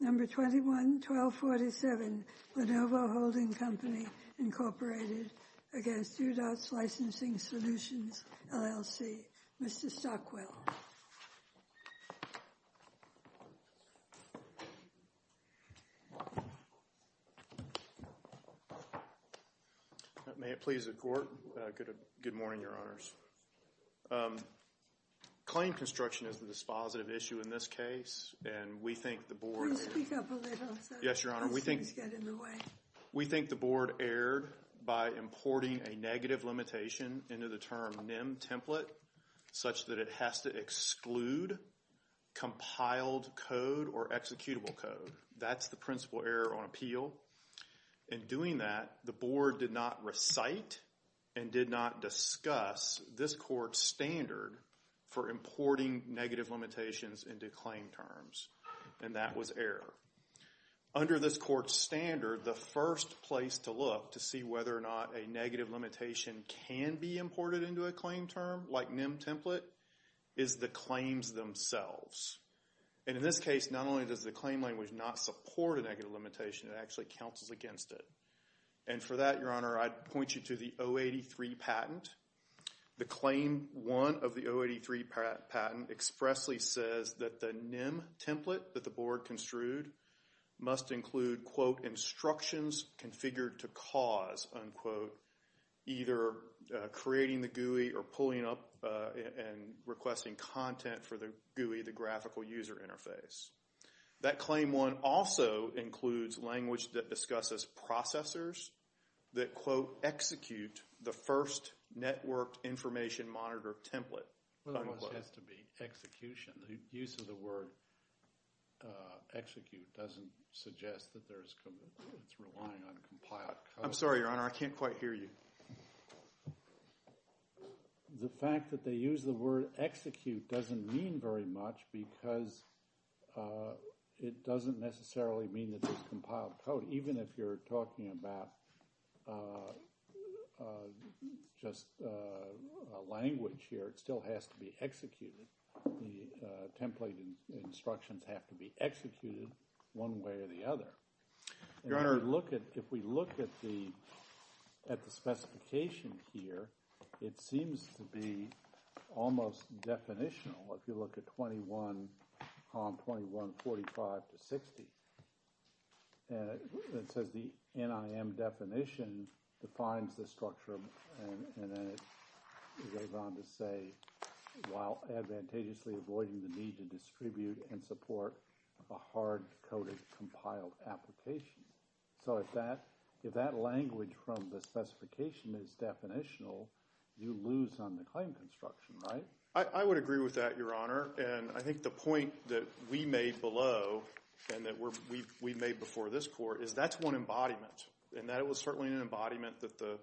No. 21-1247, Lenovo Holding Company, Inc. v. DoDots Licensing Solutions LLC. Mr. Stockwell. May it please the Court. Good morning, Your Honors. Thank you, Your Honors. Claim construction is the dispositive issue in this case, and we think the Board... Please speak up a little so those things get in the way. We think the Board erred by importing a negative limitation into the term NIM template such that it has to exclude compiled code or executable code. That's the principal error on appeal. In doing that, the Board did not recite and did not discuss this Court's standard for importing negative limitations into claim terms, and that was error. Under this Court's standard, the first place to look to see whether or not a negative limitation can be imported into a claim term like NIM template is the claims themselves. And in this case, not only does the claim language not support a negative limitation, it actually counsels against it. And for that, Your Honor, I'd point you to the 083 patent. The claim 1 of the 083 patent expressly says that the NIM template that the Board construed must include, quote, instructions configured to cause, unquote, either creating the GUI or pulling up and requesting content for the GUI, the graphical user interface. That claim 1 also includes language that discusses processors that, quote, execute the first networked information monitor template, unquote. Well, it almost has to be execution. The use of the word execute doesn't suggest that it's relying on compiled code. I'm sorry, Your Honor. I can't quite hear you. The fact that they use the word execute doesn't mean very much because it doesn't necessarily mean that there's compiled code. Even if you're talking about just language here, it still has to be executed. The template instructions have to be executed one way or the other. Your Honor, if we look at the specification here, it seems to be almost definitional. If you look at 21.45 to 60, it says the NIM definition defines the structure and then it goes on to say, while advantageously avoiding the need to distribute and support a hard-coded compiled application. So if that language from the specification is definitional, you lose on the claim construction, right? I would agree with that, Your Honor. And I think the point that we made below and that we've made before this court is that's one embodiment and that it was certainly an embodiment that the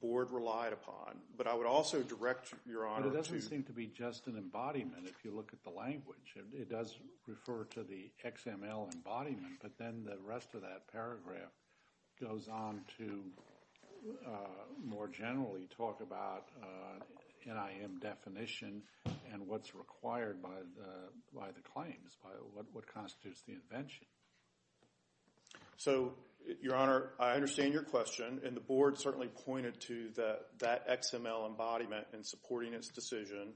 board relied upon. But I would also direct Your Honor to- But it doesn't seem to be just an embodiment if you look at the language. It does refer to the XML embodiment, but then the rest of that paragraph goes on to, more generally, talk about NIM definition and what's required by the claims, by what constitutes the invention. So, Your Honor, I understand your question and the board certainly pointed to that XML embodiment in supporting its decision.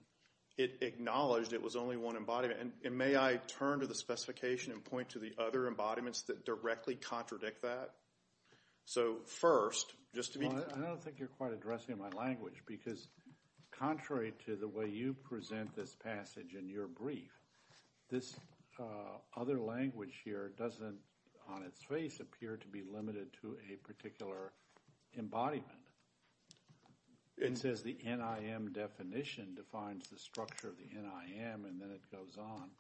It acknowledged it was only one embodiment and may I turn to the specification and point to the other just to be- Well, I don't think you're quite addressing my language because, contrary to the way you present this passage in your brief, this other language here doesn't, on its face, appear to be limited to a particular embodiment. It says the NIM definition defines the structure of the NIM and then it goes on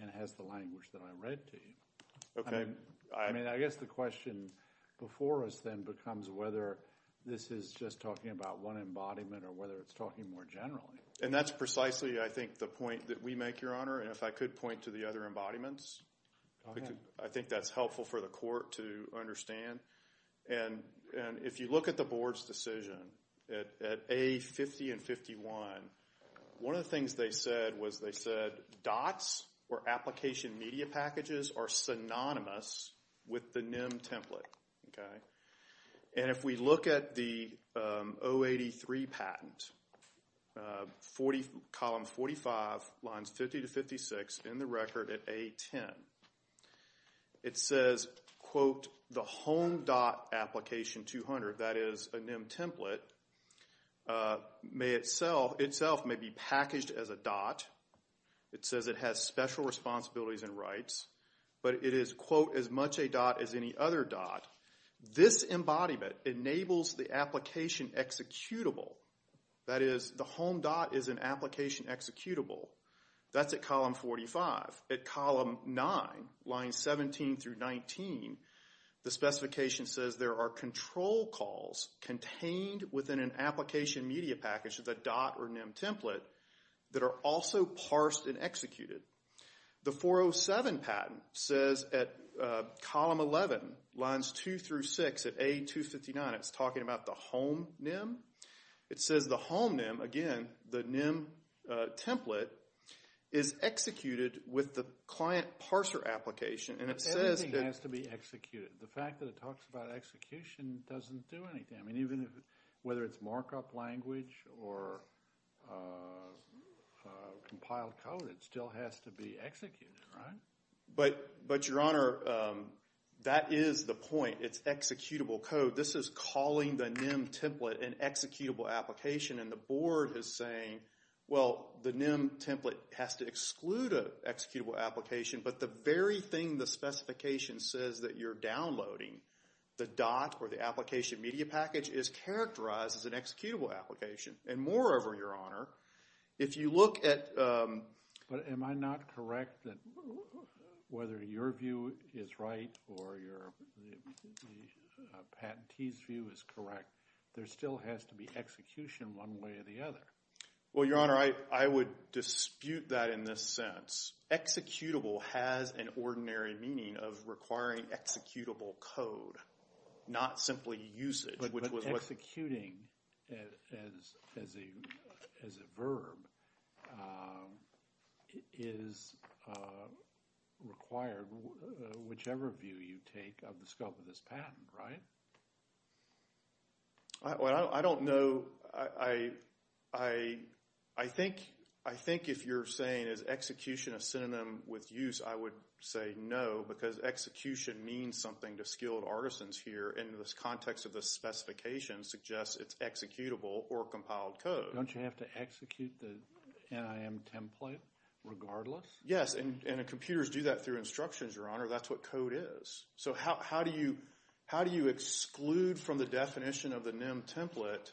and has the language that I read to you. Okay. I mean, I guess the question before us then becomes whether this is just talking about one embodiment or whether it's talking more generally. And that's precisely, I think, the point that we make, Your Honor, and if I could point to the other embodiments. Go ahead. I think that's helpful for the court to understand. And if you look at the board's decision at A50 and 51, one of the things they said was they said dots or application media packages are synonymous with the NIM template. Okay. And if we look at the 083 patent, column 45, lines 50 to 56 in the record at A10, it says, quote, the home dot application 200, that is a NIM template, itself may be packaged as a dot. It says it has special responsibilities and rights, but it is, quote, as much a dot as any other dot. This embodiment enables the application executable. That is, the home dot is an application executable. That's at column 45. At column nine, lines 17 through 19, the specification says there are control calls contained within an application media package with a dot or NIM template that are also parsed and executed. The 407 patent says at column 11, lines 2 through 6 at A259, it's talking about the home NIM. It says the home NIM, again, the NIM template is executed with the client parser application, and it says that. Everything has to be executed. The fact that it talks about it still has to be executed, right? But, your honor, that is the point. It's executable code. This is calling the NIM template an executable application, and the board is saying, well, the NIM template has to exclude an executable application, but the very thing the specification says that you're downloading, the dot or the application media package, is characterized as an executable application. And, moreover, your honor, if you look at... But, am I not correct that whether your view is right or the patentee's view is correct, there still has to be execution one way or the other? Well, your honor, I would dispute that in this sense. Executable has an ordinary meaning of requiring executable code, not simply usage, which was what... But, executing as a verb is required, whichever view you take of the scope of this patent, right? Well, I don't know. I think if you're saying is execution a synonym with use, I would say no, because execution means something to skilled artisans here, and this context of the specification suggests it's executable or compiled code. Don't you have to execute the NIM template regardless? Yes, and computers do that through instructions, your honor. That's what code is. So, how do you exclude from the definition of the NIM template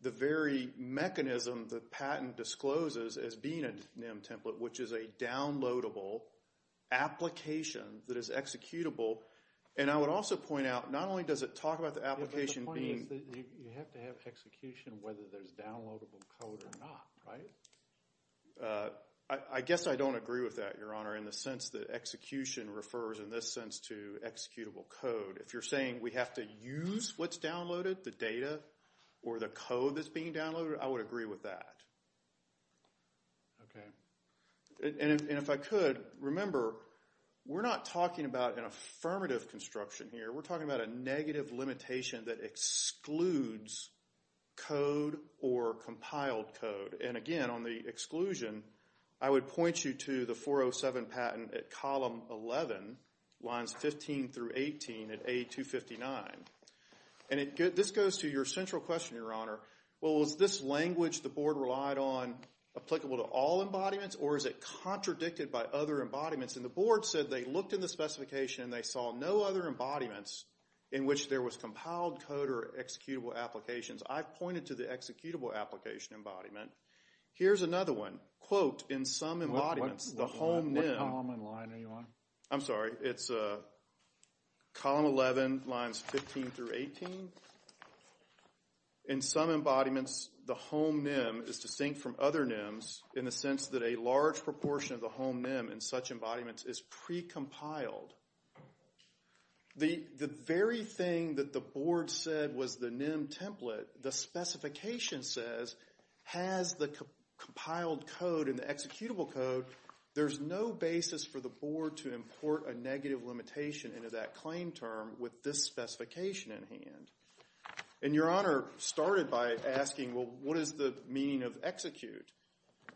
the very mechanism the patent discloses as being a NIM template, which is a downloadable application that is executable? And I would also point out, not only does it talk about the application being... But the point is that you have to have execution whether there's downloadable code or not, right? I guess I don't agree with that, your honor, in the sense that execution refers, in this sense, to executable code. If you're saying we have to use what's downloaded, the data or the code that's being downloaded, I would agree with that. Okay, and if I could, remember, we're not talking about an affirmative construction here. We're talking about a negative limitation that excludes code or compiled code. And again, on the exclusion, I would point you to the 407 patent at column 11, lines 15 through 18 at A259, and this goes to your central question, your honor. Well, is this language the board relied on applicable to all embodiments or is it contradicted by other embodiments? And the board said they looked in the specification and they saw no other embodiments in which there was compiled code or executable applications. I've pointed to the executable application embodiment. Here's another one, quote, in some embodiments, the home NIM... What column and line are you on? I'm sorry, it's column 11, lines 15 through 18. In some embodiments, the home NIM is distinct from other NIMs in the sense that a large proportion of the home NIM in such embodiments is pre-compiled. The very thing that the board said was the NIM template, the specification says, has the compiled code and the executable code. There's no basis for the board to import a negative limitation into that claim term with this specification in hand. And your honor started by asking, well, what is the meaning of execute?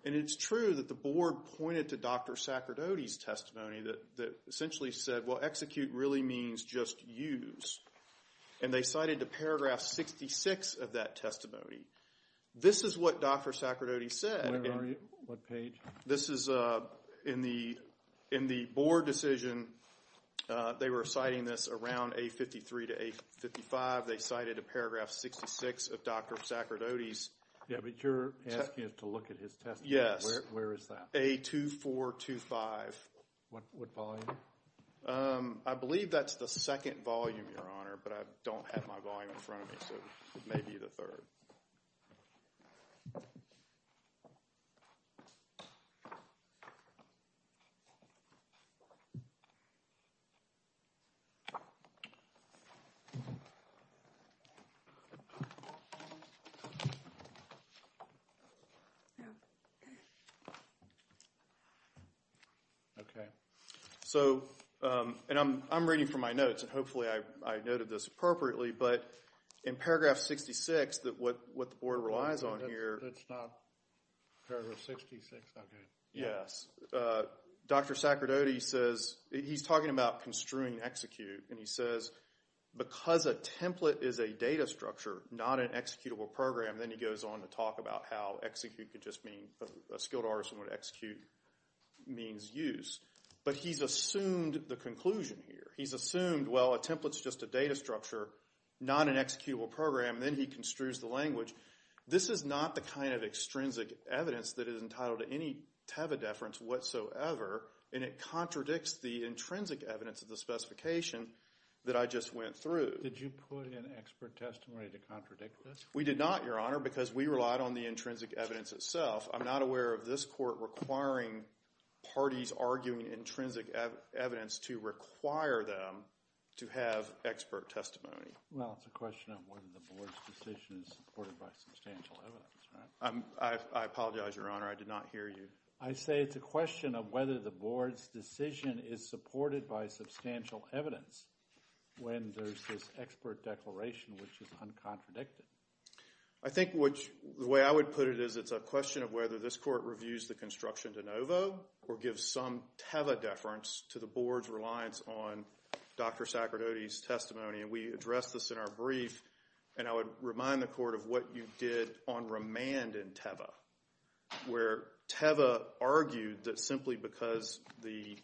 And it's true that the board pointed to Dr. Sacerdoti's testimony that essentially said, well, execute really means just use. And they cited to paragraph 66 of that testimony. This is what Dr. Sacerdoti said. Where are you? What page? This is in the board decision. They were citing this around A53 to A55. They cited a paragraph 66 of Dr. Sacerdoti's. Yeah, but you're asking us to look at his testimony. Yes. Where is that? A2425. What volume? I believe that's the second volume, your honor. But I don't have my volume in front of me, so it may be the third. Okay. So, and I'm reading from my notes, and hopefully I noted this appropriately, but in paragraph 66, what the board relies on here. It's not paragraph 66. Okay. Yes. Dr. Sacerdoti says, he's talking about construing execute. And he says, because a template is a data structure, not an executable program. Then he goes on to talk about how execute could just mean, a skilled artisan would execute means use. But he's assumed the conclusion here. He's assumed, well, a template's just a data structure, not an executable program. Then he construes the language. This is not the kind of extrinsic evidence that is entitled to any TEVA deference whatsoever. And it contradicts the intrinsic evidence of the specification that I just went through. Did you put in expert testimony to contradict this? We did not, your honor, because we relied on the intrinsic evidence itself. I'm not aware of this court requiring parties arguing intrinsic evidence to require them to have expert testimony. Well, it's a question of whether the board's decision is supported by substantial evidence, right? I apologize, your honor. I did not hear you. I say it's a question of whether the board's decision is supported by substantial evidence when there's this expert declaration, which is uncontradicted. I think which, the way I would put it is, it's a question of whether this court reviews the construction de novo or gives some TEVA deference to the board's reliance on Dr. Sacerdoti's testimony. And we addressed this in our brief. And I would remind the court of what you did on remand in TEVA, where TEVA argued that simply because they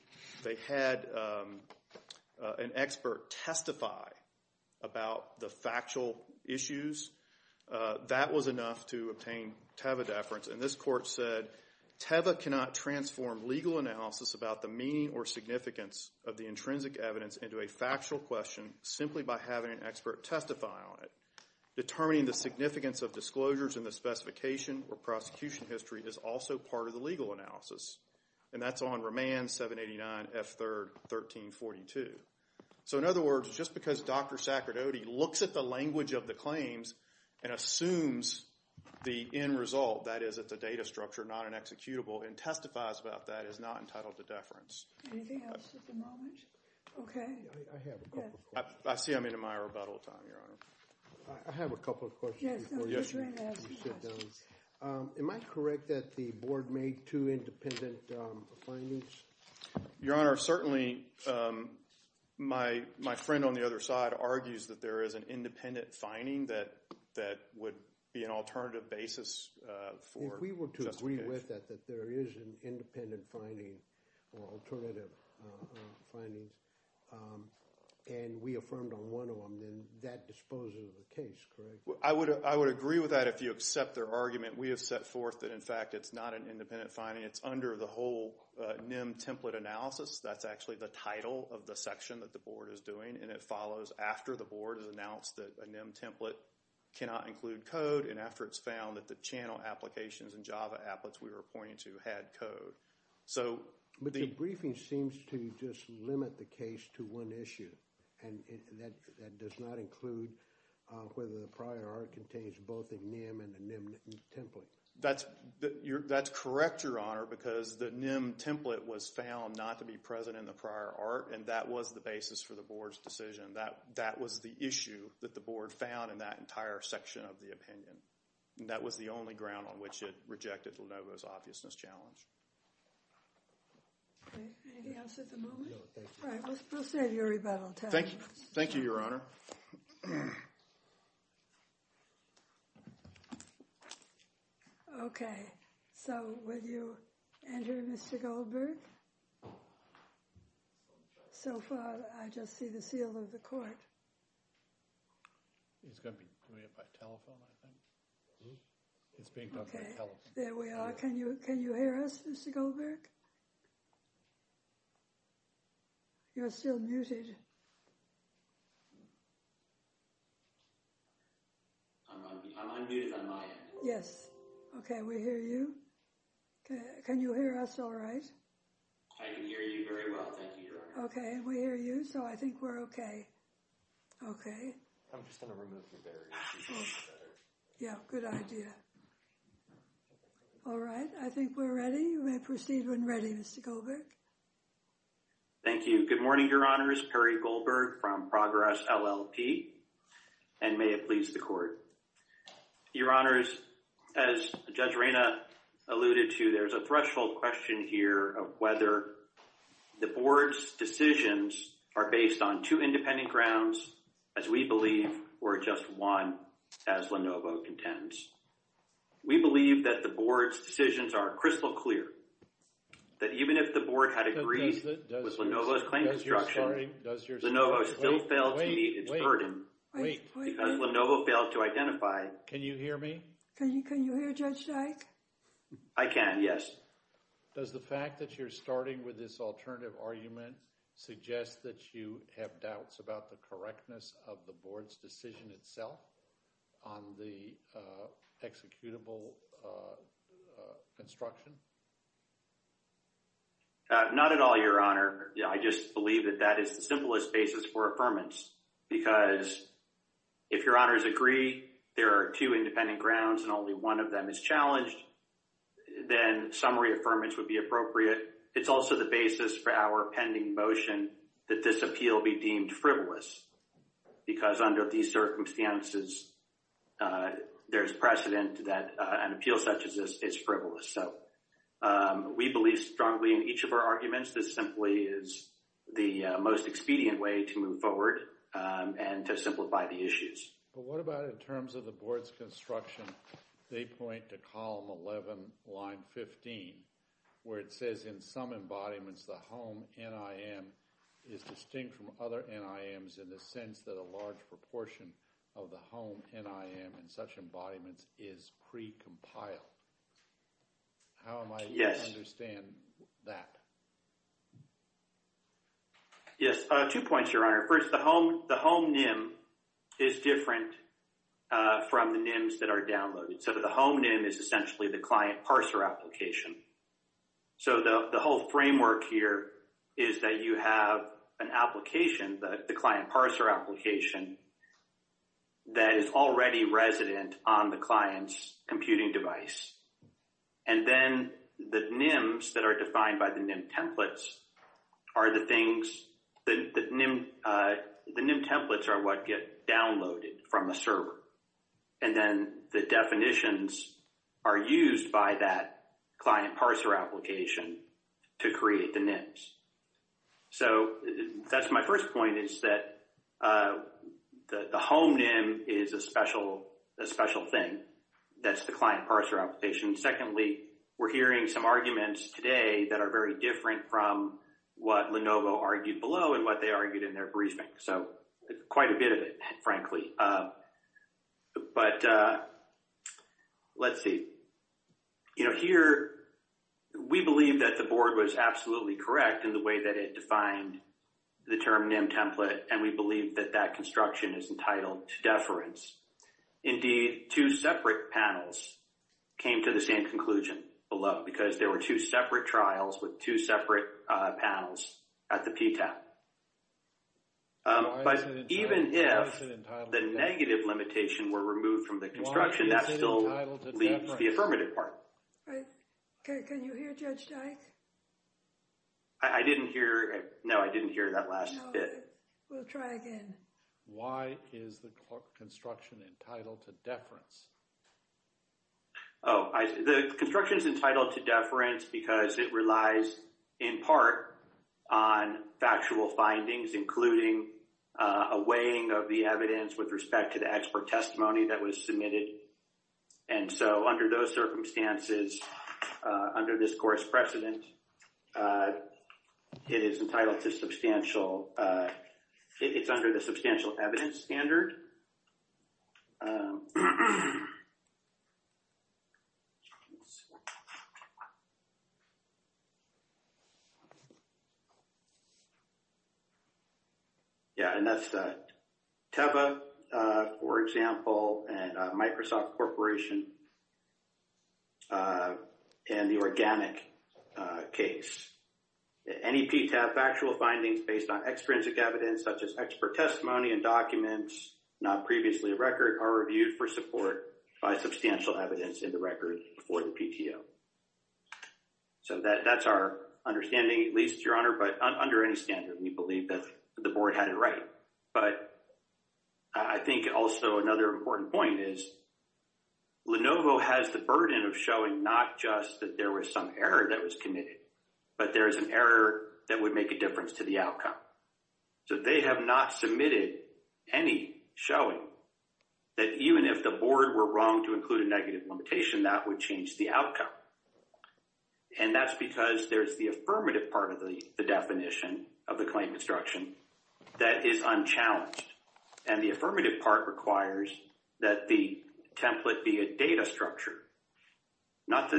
had an expert testify about the factual issues, that was enough to obtain TEVA deference. And this court said, TEVA cannot transform legal analysis about the meaning or significance of the intrinsic evidence into a factual question simply by having an expert testify on it. Determining the significance of disclosures in the specification or prosecution history is also part of the legal analysis. And that's on remand 789 F3rd 1342. So in other words, just because Dr. Sacerdoti looks at the language of the claims and assumes the end result, that is it's a data structure, not an executable, and testifies about that is not entitled to deference. Anything else at the moment? Okay. I have a couple of questions. I see I'm in my rebuttal time, Your Honor. I have a couple of questions. Yes, I was going to ask you questions. Am I correct that the board made two independent findings? Your Honor, certainly. My friend on the other side argues that there is an independent finding that would be an alternative basis for justification. If we were to agree with that, that there is an independent finding or alternative findings, and we affirmed on one of them, then that disposes of the case, correct? I would agree with that if you accept their argument. We have set forth that, in fact, it's not an independent finding. It's under the whole NIM template analysis. That's actually the title of the section that the board is doing, and it follows after the board has announced that a NIM template cannot include code, and after it's found that the channel applications and Java applets we were pointing to had code. But the briefing seems to just limit the case to one issue, and that does not include whether the prior art contains both a NIM and a NIM template. That's correct, Your Honor, because the NIM template was found not to be present in the decision. That was the issue that the board found in that entire section of the opinion, and that was the only ground on which it rejected Lenovo's obviousness challenge. Anything else at the moment? No, thank you. All right, we'll stay at your rebuttal, Ted. Thank you, Your Honor. Okay, so will you enter, Mr. Goldberg? So far, I just see the seal of the court. He's going to be doing it by telephone, I think. It's being done by telephone. There we are. Can you hear us, Mr. Goldberg? You're still muted. I'm unmuted on my end. Yes, okay, we hear you. Can you hear us all right? I can hear you very well, thank you, Your Honor. Okay, we hear you, so I think we're okay. Okay. I'm just going to remove the barrier. Yeah, good idea. All right, I think we're ready. You may proceed when ready, Mr. Goldberg. Thank you. Good morning, Your Honors. Perry Goldberg from Progress LLP, and may it please the court. Your Honors, as Judge Reyna alluded to, there's a threshold question here of whether the board's decisions are based on two independent grounds, as we believe, or just one, as Lenovo contends. We believe that the board's decisions are crystal clear, that even if the board had agreed with Lenovo's claim construction, Lenovo still failed to meet its burden because Lenovo failed to identify— Can you hear me? Can you hear Judge Dyke? I can, yes. Does the fact that you're starting with this alternative argument suggest that you have doubts about the correctness of the board's decision itself on the executable construction? Not at all, Your Honor. I just believe that that is the simplest basis for affirmance, because if Your Honors agree there are two independent grounds and only one of them is affirmance would be appropriate, it's also the basis for our pending motion that this appeal be deemed frivolous, because under these circumstances there's precedent that an appeal such as this is frivolous. So we believe strongly in each of our arguments. This simply is the most expedient way to move forward and to simplify the issues. But what about in terms of the board's construction? They point to column 11, line 15, where it says in some embodiments the home NIM is distinct from other NIMs in the sense that a large proportion of the home NIM in such embodiments is pre-compiled. How am I to understand that? Yes, two points, Your Honor. The home NIM is different from the NIMs that are downloaded. So the home NIM is essentially the client parser application. So the whole framework here is that you have an application, the client parser application, that is already resident on the client's computing device. And then the NIMs that are defined by the NIM templates are the things, the NIM templates are what get downloaded from the server. And then the definitions are used by that client parser application to create the NIMs. So that's my first point is that the home NIM is a special thing. That's the client parser application. Secondly, we're hearing some arguments today that are very different from what Lenovo argued below and what they argued in their briefing. So quite a bit of it, frankly. But let's see. Here, we believe that the board was absolutely correct in the way that it defined the term NIM template, and we believe that that construction is entitled to deference. Indeed, two separate panels came to the same conclusion below, because there were two separate trials with two separate panels at the PTAP. But even if the negative limitation were removed from the construction, that still leaves the affirmative part. Can you hear Judge Dyke? I didn't hear. No, I didn't hear that last bit. We'll try again. Why is the construction entitled to deference? Oh, the construction is entitled to deference because it relies in part on factual findings, including a weighing of the evidence with respect to the expert testimony that was submitted. And so under those circumstances, under this course precedent, it is entitled to substantial, it's under the Substantial Evidence Standard. Yeah, and that's the Teva, for example, and Microsoft Corporation, and the organic case, any PTAP factual findings based on extrinsic evidence such as expert testimony and documents, not previously a record, are reviewed for support by substantial evidence in the record for the PTO. So that's our understanding, at least, Your Honor, but under any standard, we believe that the board had it right. But I think also another important point is Lenovo has the burden of showing not just that there was some error that was committed, but there is an error that would make a difference to the outcome. So they have not submitted any showing that even if the board were wrong to include a negative limitation, that would change the outcome. And that's because there's the affirmative part of the definition of the claim construction that is unchallenged. And the affirmative part requires that the template be a data structure, not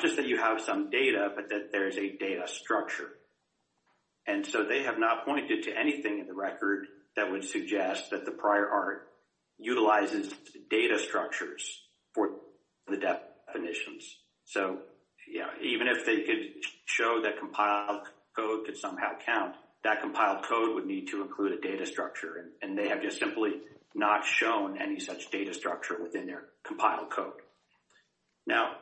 just that you have some data, but that there is a data structure. And so they have not pointed to anything in the record that would suggest that the prior art utilizes data structures for the definitions. So, yeah, even if they could show that compiled code could somehow count, that compiled code would need to include a data structure, and they have just simply not shown any such data structure within their compiled code. Now,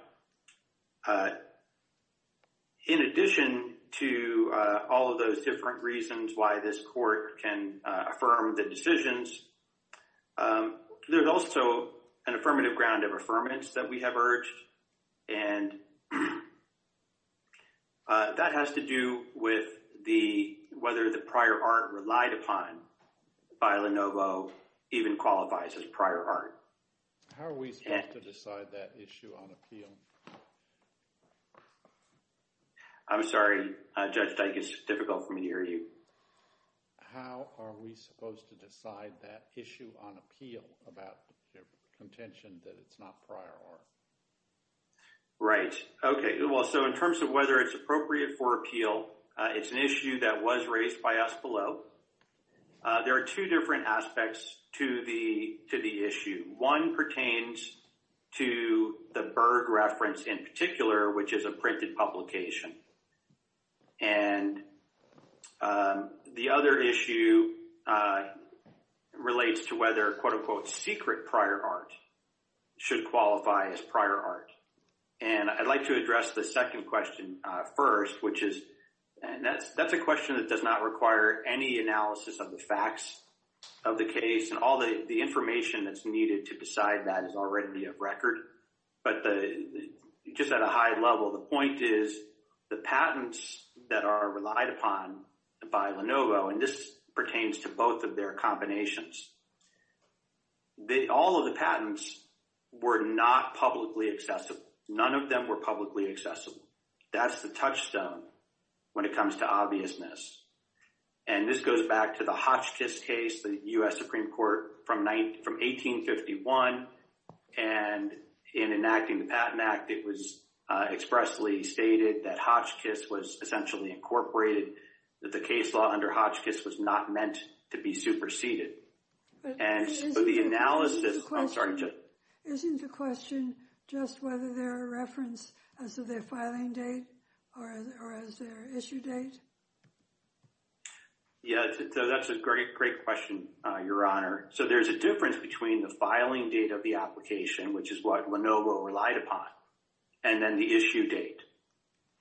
in addition to all of those different reasons why this court can affirm the decisions, there's also an affirmative ground of affirmance that we have urged. And that has to do with the, whether the prior art relied upon by Lenovo even qualifies as prior art. And... How are we supposed to decide that issue on appeal? I'm sorry, Judge Dike, it's difficult for me to hear you. How are we supposed to decide that issue on appeal about the contention that it's not prior art? Right. Okay. Well, so in terms of whether it's appropriate for appeal, it's an issue that was raised by us below. There are two different aspects to the issue. One pertains to the Berg reference in particular, which is a printed publication. And the other issue relates to whether, quote, unquote, secret prior art should qualify as prior art. And I'd like to address the second question first, which is, and that's a question that does not require any analysis of the facts of the case. And all the information that's needed to decide that is already of record. But just at a high level, the point is the patents that are relied upon by Lenovo, and this pertains to both of their combinations, all of the patents were not publicly accessible. None of them were publicly accessible. That's the touchstone when it comes to obviousness. And this goes back to the Hotchkiss case, the U.S. In enacting the Patent Act, it was expressly stated that Hotchkiss was essentially incorporated, that the case law under Hotchkiss was not meant to be superseded. And so the analysis, I'm sorry. Isn't the question just whether there are reference as to their filing date or as their issue date? Yeah, so that's a great, great question, Your Honor. So there's a difference between the filing date of the application, which is what Lenovo relied upon, and then the issue date.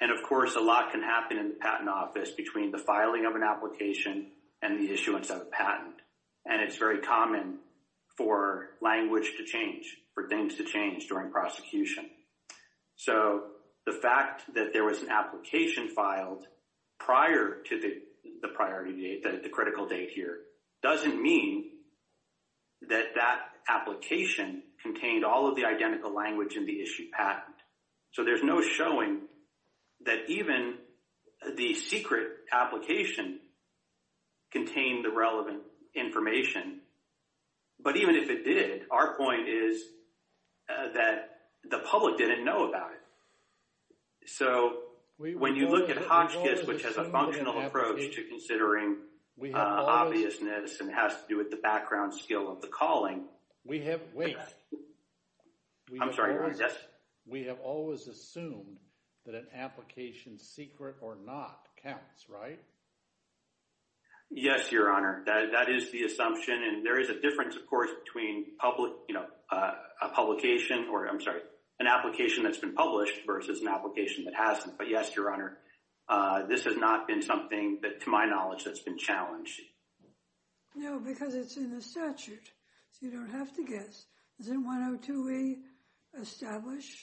And of course, a lot can happen in the Patent Office between the filing of an application and the issuance of a patent. And it's very common for language to change, for things to change during prosecution. So the fact that there was an application filed prior to the priority date, the critical date here, doesn't mean that that application contained all of the identical language in the issued patent. So there's no showing that even the secret application contained the relevant information. But even if it did, our point is that the public didn't know about it. So when you look at Hotchkiss, which has a functional approach to considering obviousness and has to do with the background skill of the calling... We have... Wait. I'm sorry, Your Honor. Yes. We have always assumed that an application, secret or not, counts, right? Yes, Your Honor. That is the assumption. And there is a difference, of course, between a publication or, I'm sorry, an application that's been published versus an application that hasn't. But yes, Your Honor, this has not been something that, to my knowledge, that's been challenged. No, because it's in the statute. So you don't have to guess. Is it 102A established?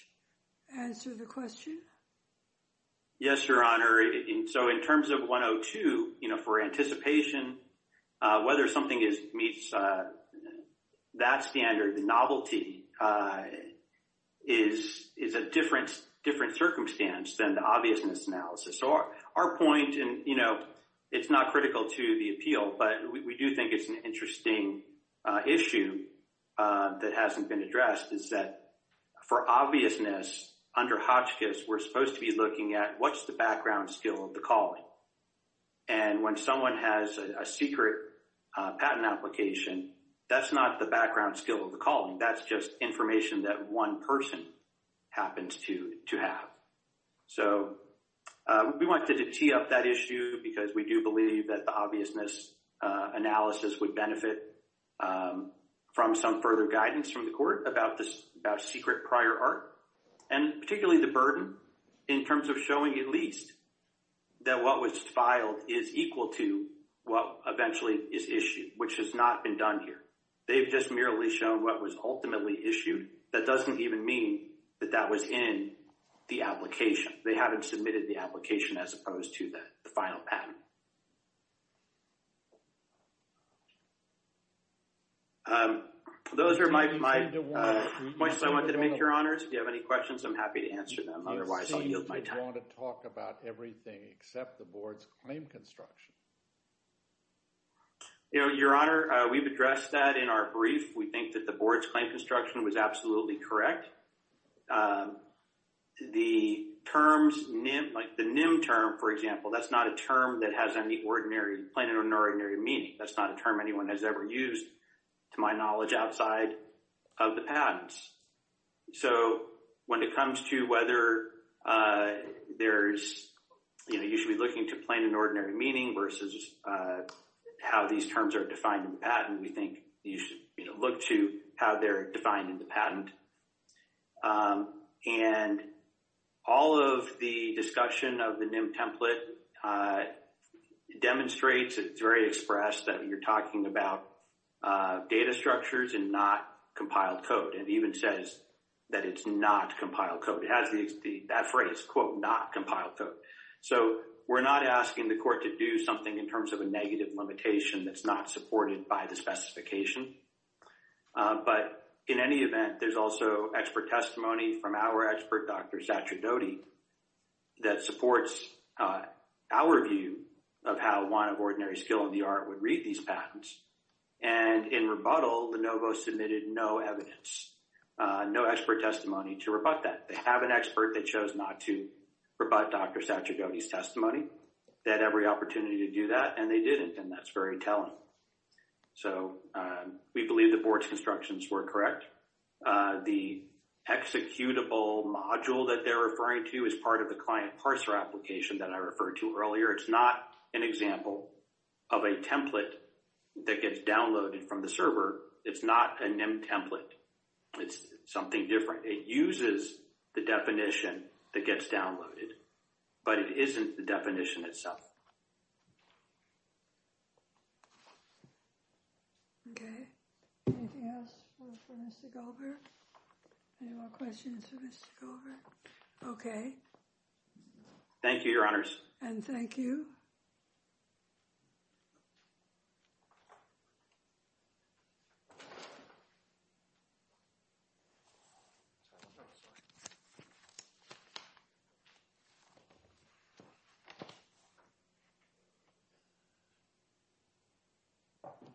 Answer the question. Yes, Your Honor. So in terms of 102, you know, for anticipation, whether something meets that standard, the different circumstance than the obviousness analysis. So our point, and you know, it's not critical to the appeal, but we do think it's an interesting issue that hasn't been addressed, is that for obviousness, under Hotchkiss, we're supposed to be looking at what's the background skill of the calling. And when someone has a secret patent application, that's not the background skill of the calling. That's just information that one person happens to have. So we wanted to tee up that issue because we do believe that the obviousness analysis would benefit from some further guidance from the court about secret prior art, and particularly the burden in terms of showing at least that what was filed is equal to what eventually is issued, which has not been done here. They've just merely shown what was ultimately issued. That doesn't even mean that that was in the application. They haven't submitted the application as opposed to the final patent. Those are my points I wanted to make, Your Honors. If you have any questions, I'm happy to answer them. Otherwise, I'll yield my time. You seem to want to talk about everything except the board's claim construction. You know, Your Honor, we've addressed that in our brief. We think that the board's claim construction was absolutely correct. The terms NIM, like the NIM term, for example, that's not a term that has any ordinary, plain and ordinary meaning. That's not a term anyone has ever used to my knowledge outside of the patents. So when it comes to whether there's, you know, you should be looking to plain and ordinary meaning versus how these terms are defined in the patent, we think you should, you know, look to how they're defined in the patent. And all of the discussion of the NIM template demonstrates, it's very expressed, that you're talking about data structures and not compiled code. It even says that it's not compiled code. It has that phrase, quote, not compiled code. So we're not asking the court to do something in terms of a negative limitation that's not supported by the specification. But in any event, there's also expert testimony from our expert, Dr. Satridoti, that supports our view of how one of ordinary skill in the art would read these patents. And in rebuttal, the NOVO submitted no evidence, no expert testimony to rebut that. They have an expert that chose not to rebut Dr. Satridoti's testimony. They had every opportunity to do that, and they didn't, and that's very telling. So we believe the board's constructions were correct. The executable module that they're referring to is part of the client parser application that I referred to earlier. It's not an example of a template that gets downloaded from the server. It's not a NIM template. It's something different. It uses the definition that gets downloaded, but it isn't the definition itself. Okay, anything else for Mr. Goldberg? Any more questions for Mr. Goldberg? Okay. Thank you, Your Honors. And thank you. Sorry.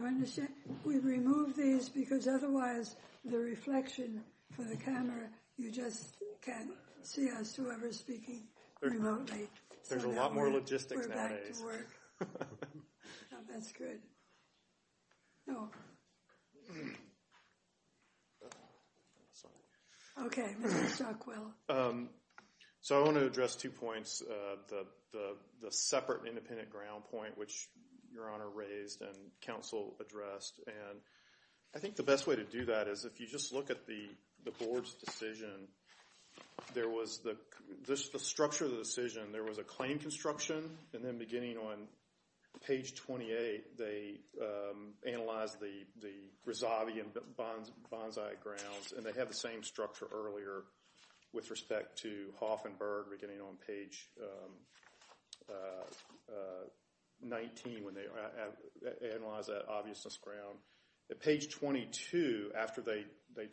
You understand, we've removed these because otherwise the reflection for the camera, you just can't see us, whoever's speaking remotely. There's a lot more logistics nowadays. We're back to work. That's good. No. Okay, Mr. Stockwell. So I want to address two points, the separate independent ground point, which Your Honor raised and counsel addressed. And I think the best way to do that is if you just look at the board's decision, there was the structure of the decision. There was a claim construction, and then beginning on page 28, they analyzed the Rezavi and Banzai grounds, and they had the same structure earlier with respect to Hoff and Berg, beginning on page 19 when they analyzed that obviousness ground. At page 22, after they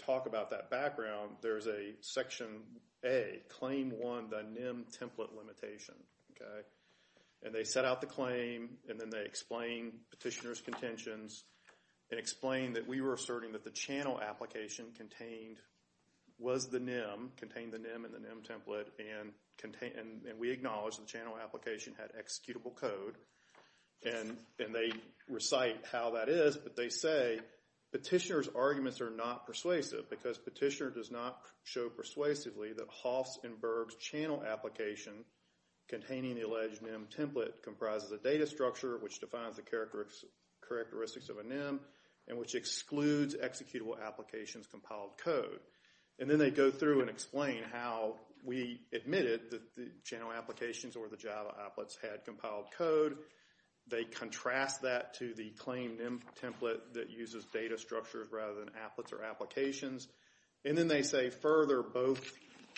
talk about that background, there's a section A, claim one, the NIM template limitation. And they set out the claim, and then they explain petitioner's contentions, and explain that we were asserting that the channel application contained, was the NIM, contained the NIM and the NIM template, and we acknowledge the channel application had executable code. And they recite how that is, but they say petitioner's arguments are not persuasive, because petitioner does not show persuasively that Hoff's and Berg's channel application containing the alleged NIM template comprises a data structure, which defines the characteristics of a NIM, and which excludes executable applications compiled code. And then they go through and explain how we admitted that the channel applications or the Java applets had compiled code. They contrast that to the claim NIM template that uses data structures rather than applets or applications. And then they say further, both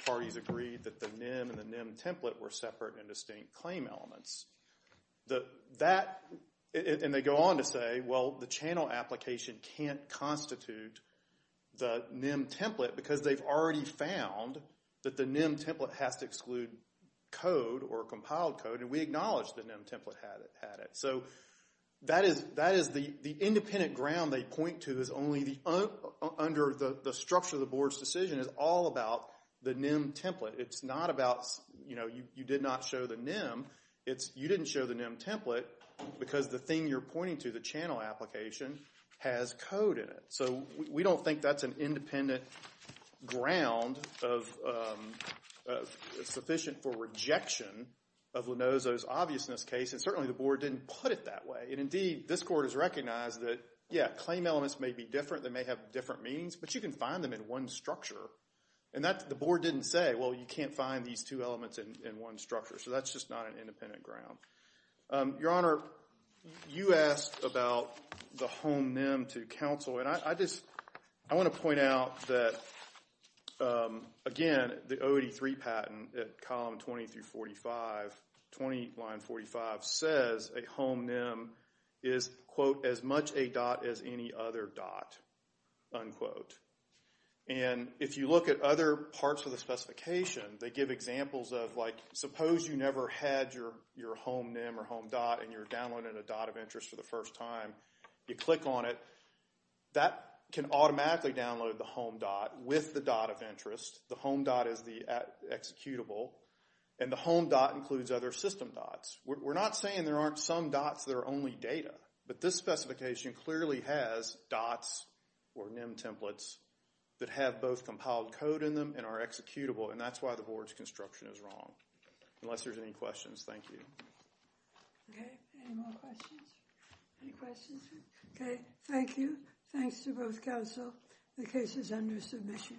parties agreed that the NIM and the NIM template were separate and distinct claim elements. The, that, and they go on to say, well, the channel application can't constitute the NIM template, because they've already found that the NIM template has to exclude code or compiled code, and we acknowledge the NIM template had it. So that is, that is the independent ground they point to is only the, under the structure of the board's decision is all about the NIM template. It's not about, you know, you did not show the NIM. It's, you didn't show the NIM template, because the thing you're pointing to, the channel application, has code in it. So we don't think that's an independent ground of, sufficient for rejection of Lenozo's obviousness case. And certainly the board didn't put it that way. And indeed, this court has recognized that, yeah, claim elements may be different. They may have different meanings, but you can find them in one structure. And that, the board didn't say, well, you can't find these two elements in one structure. So that's just not an independent ground. Your Honor, you asked about the home NIM to counsel. And I just, I want to point out that, again, the 083 patent at column 20 through 45, 20 line 45, says a home NIM is, quote, as much a dot as any other dot, unquote. And if you look at other parts of the specification, they give examples of like, suppose you never had your home NIM or home dot, and you're downloading a dot of interest for the first time. You click on it. That can automatically download the home dot with the dot of interest. The home dot is the executable. And the home dot includes other system dots. We're not saying there aren't some dots that are only data. But this specification clearly has dots or NIM templates that have both compiled code in them and are executable. And that's why the board's construction is wrong. Unless there's any questions. Thank you. Okay. Any more questions? Any questions? Okay. Thank you. Thanks to both counsel. The case is under submission.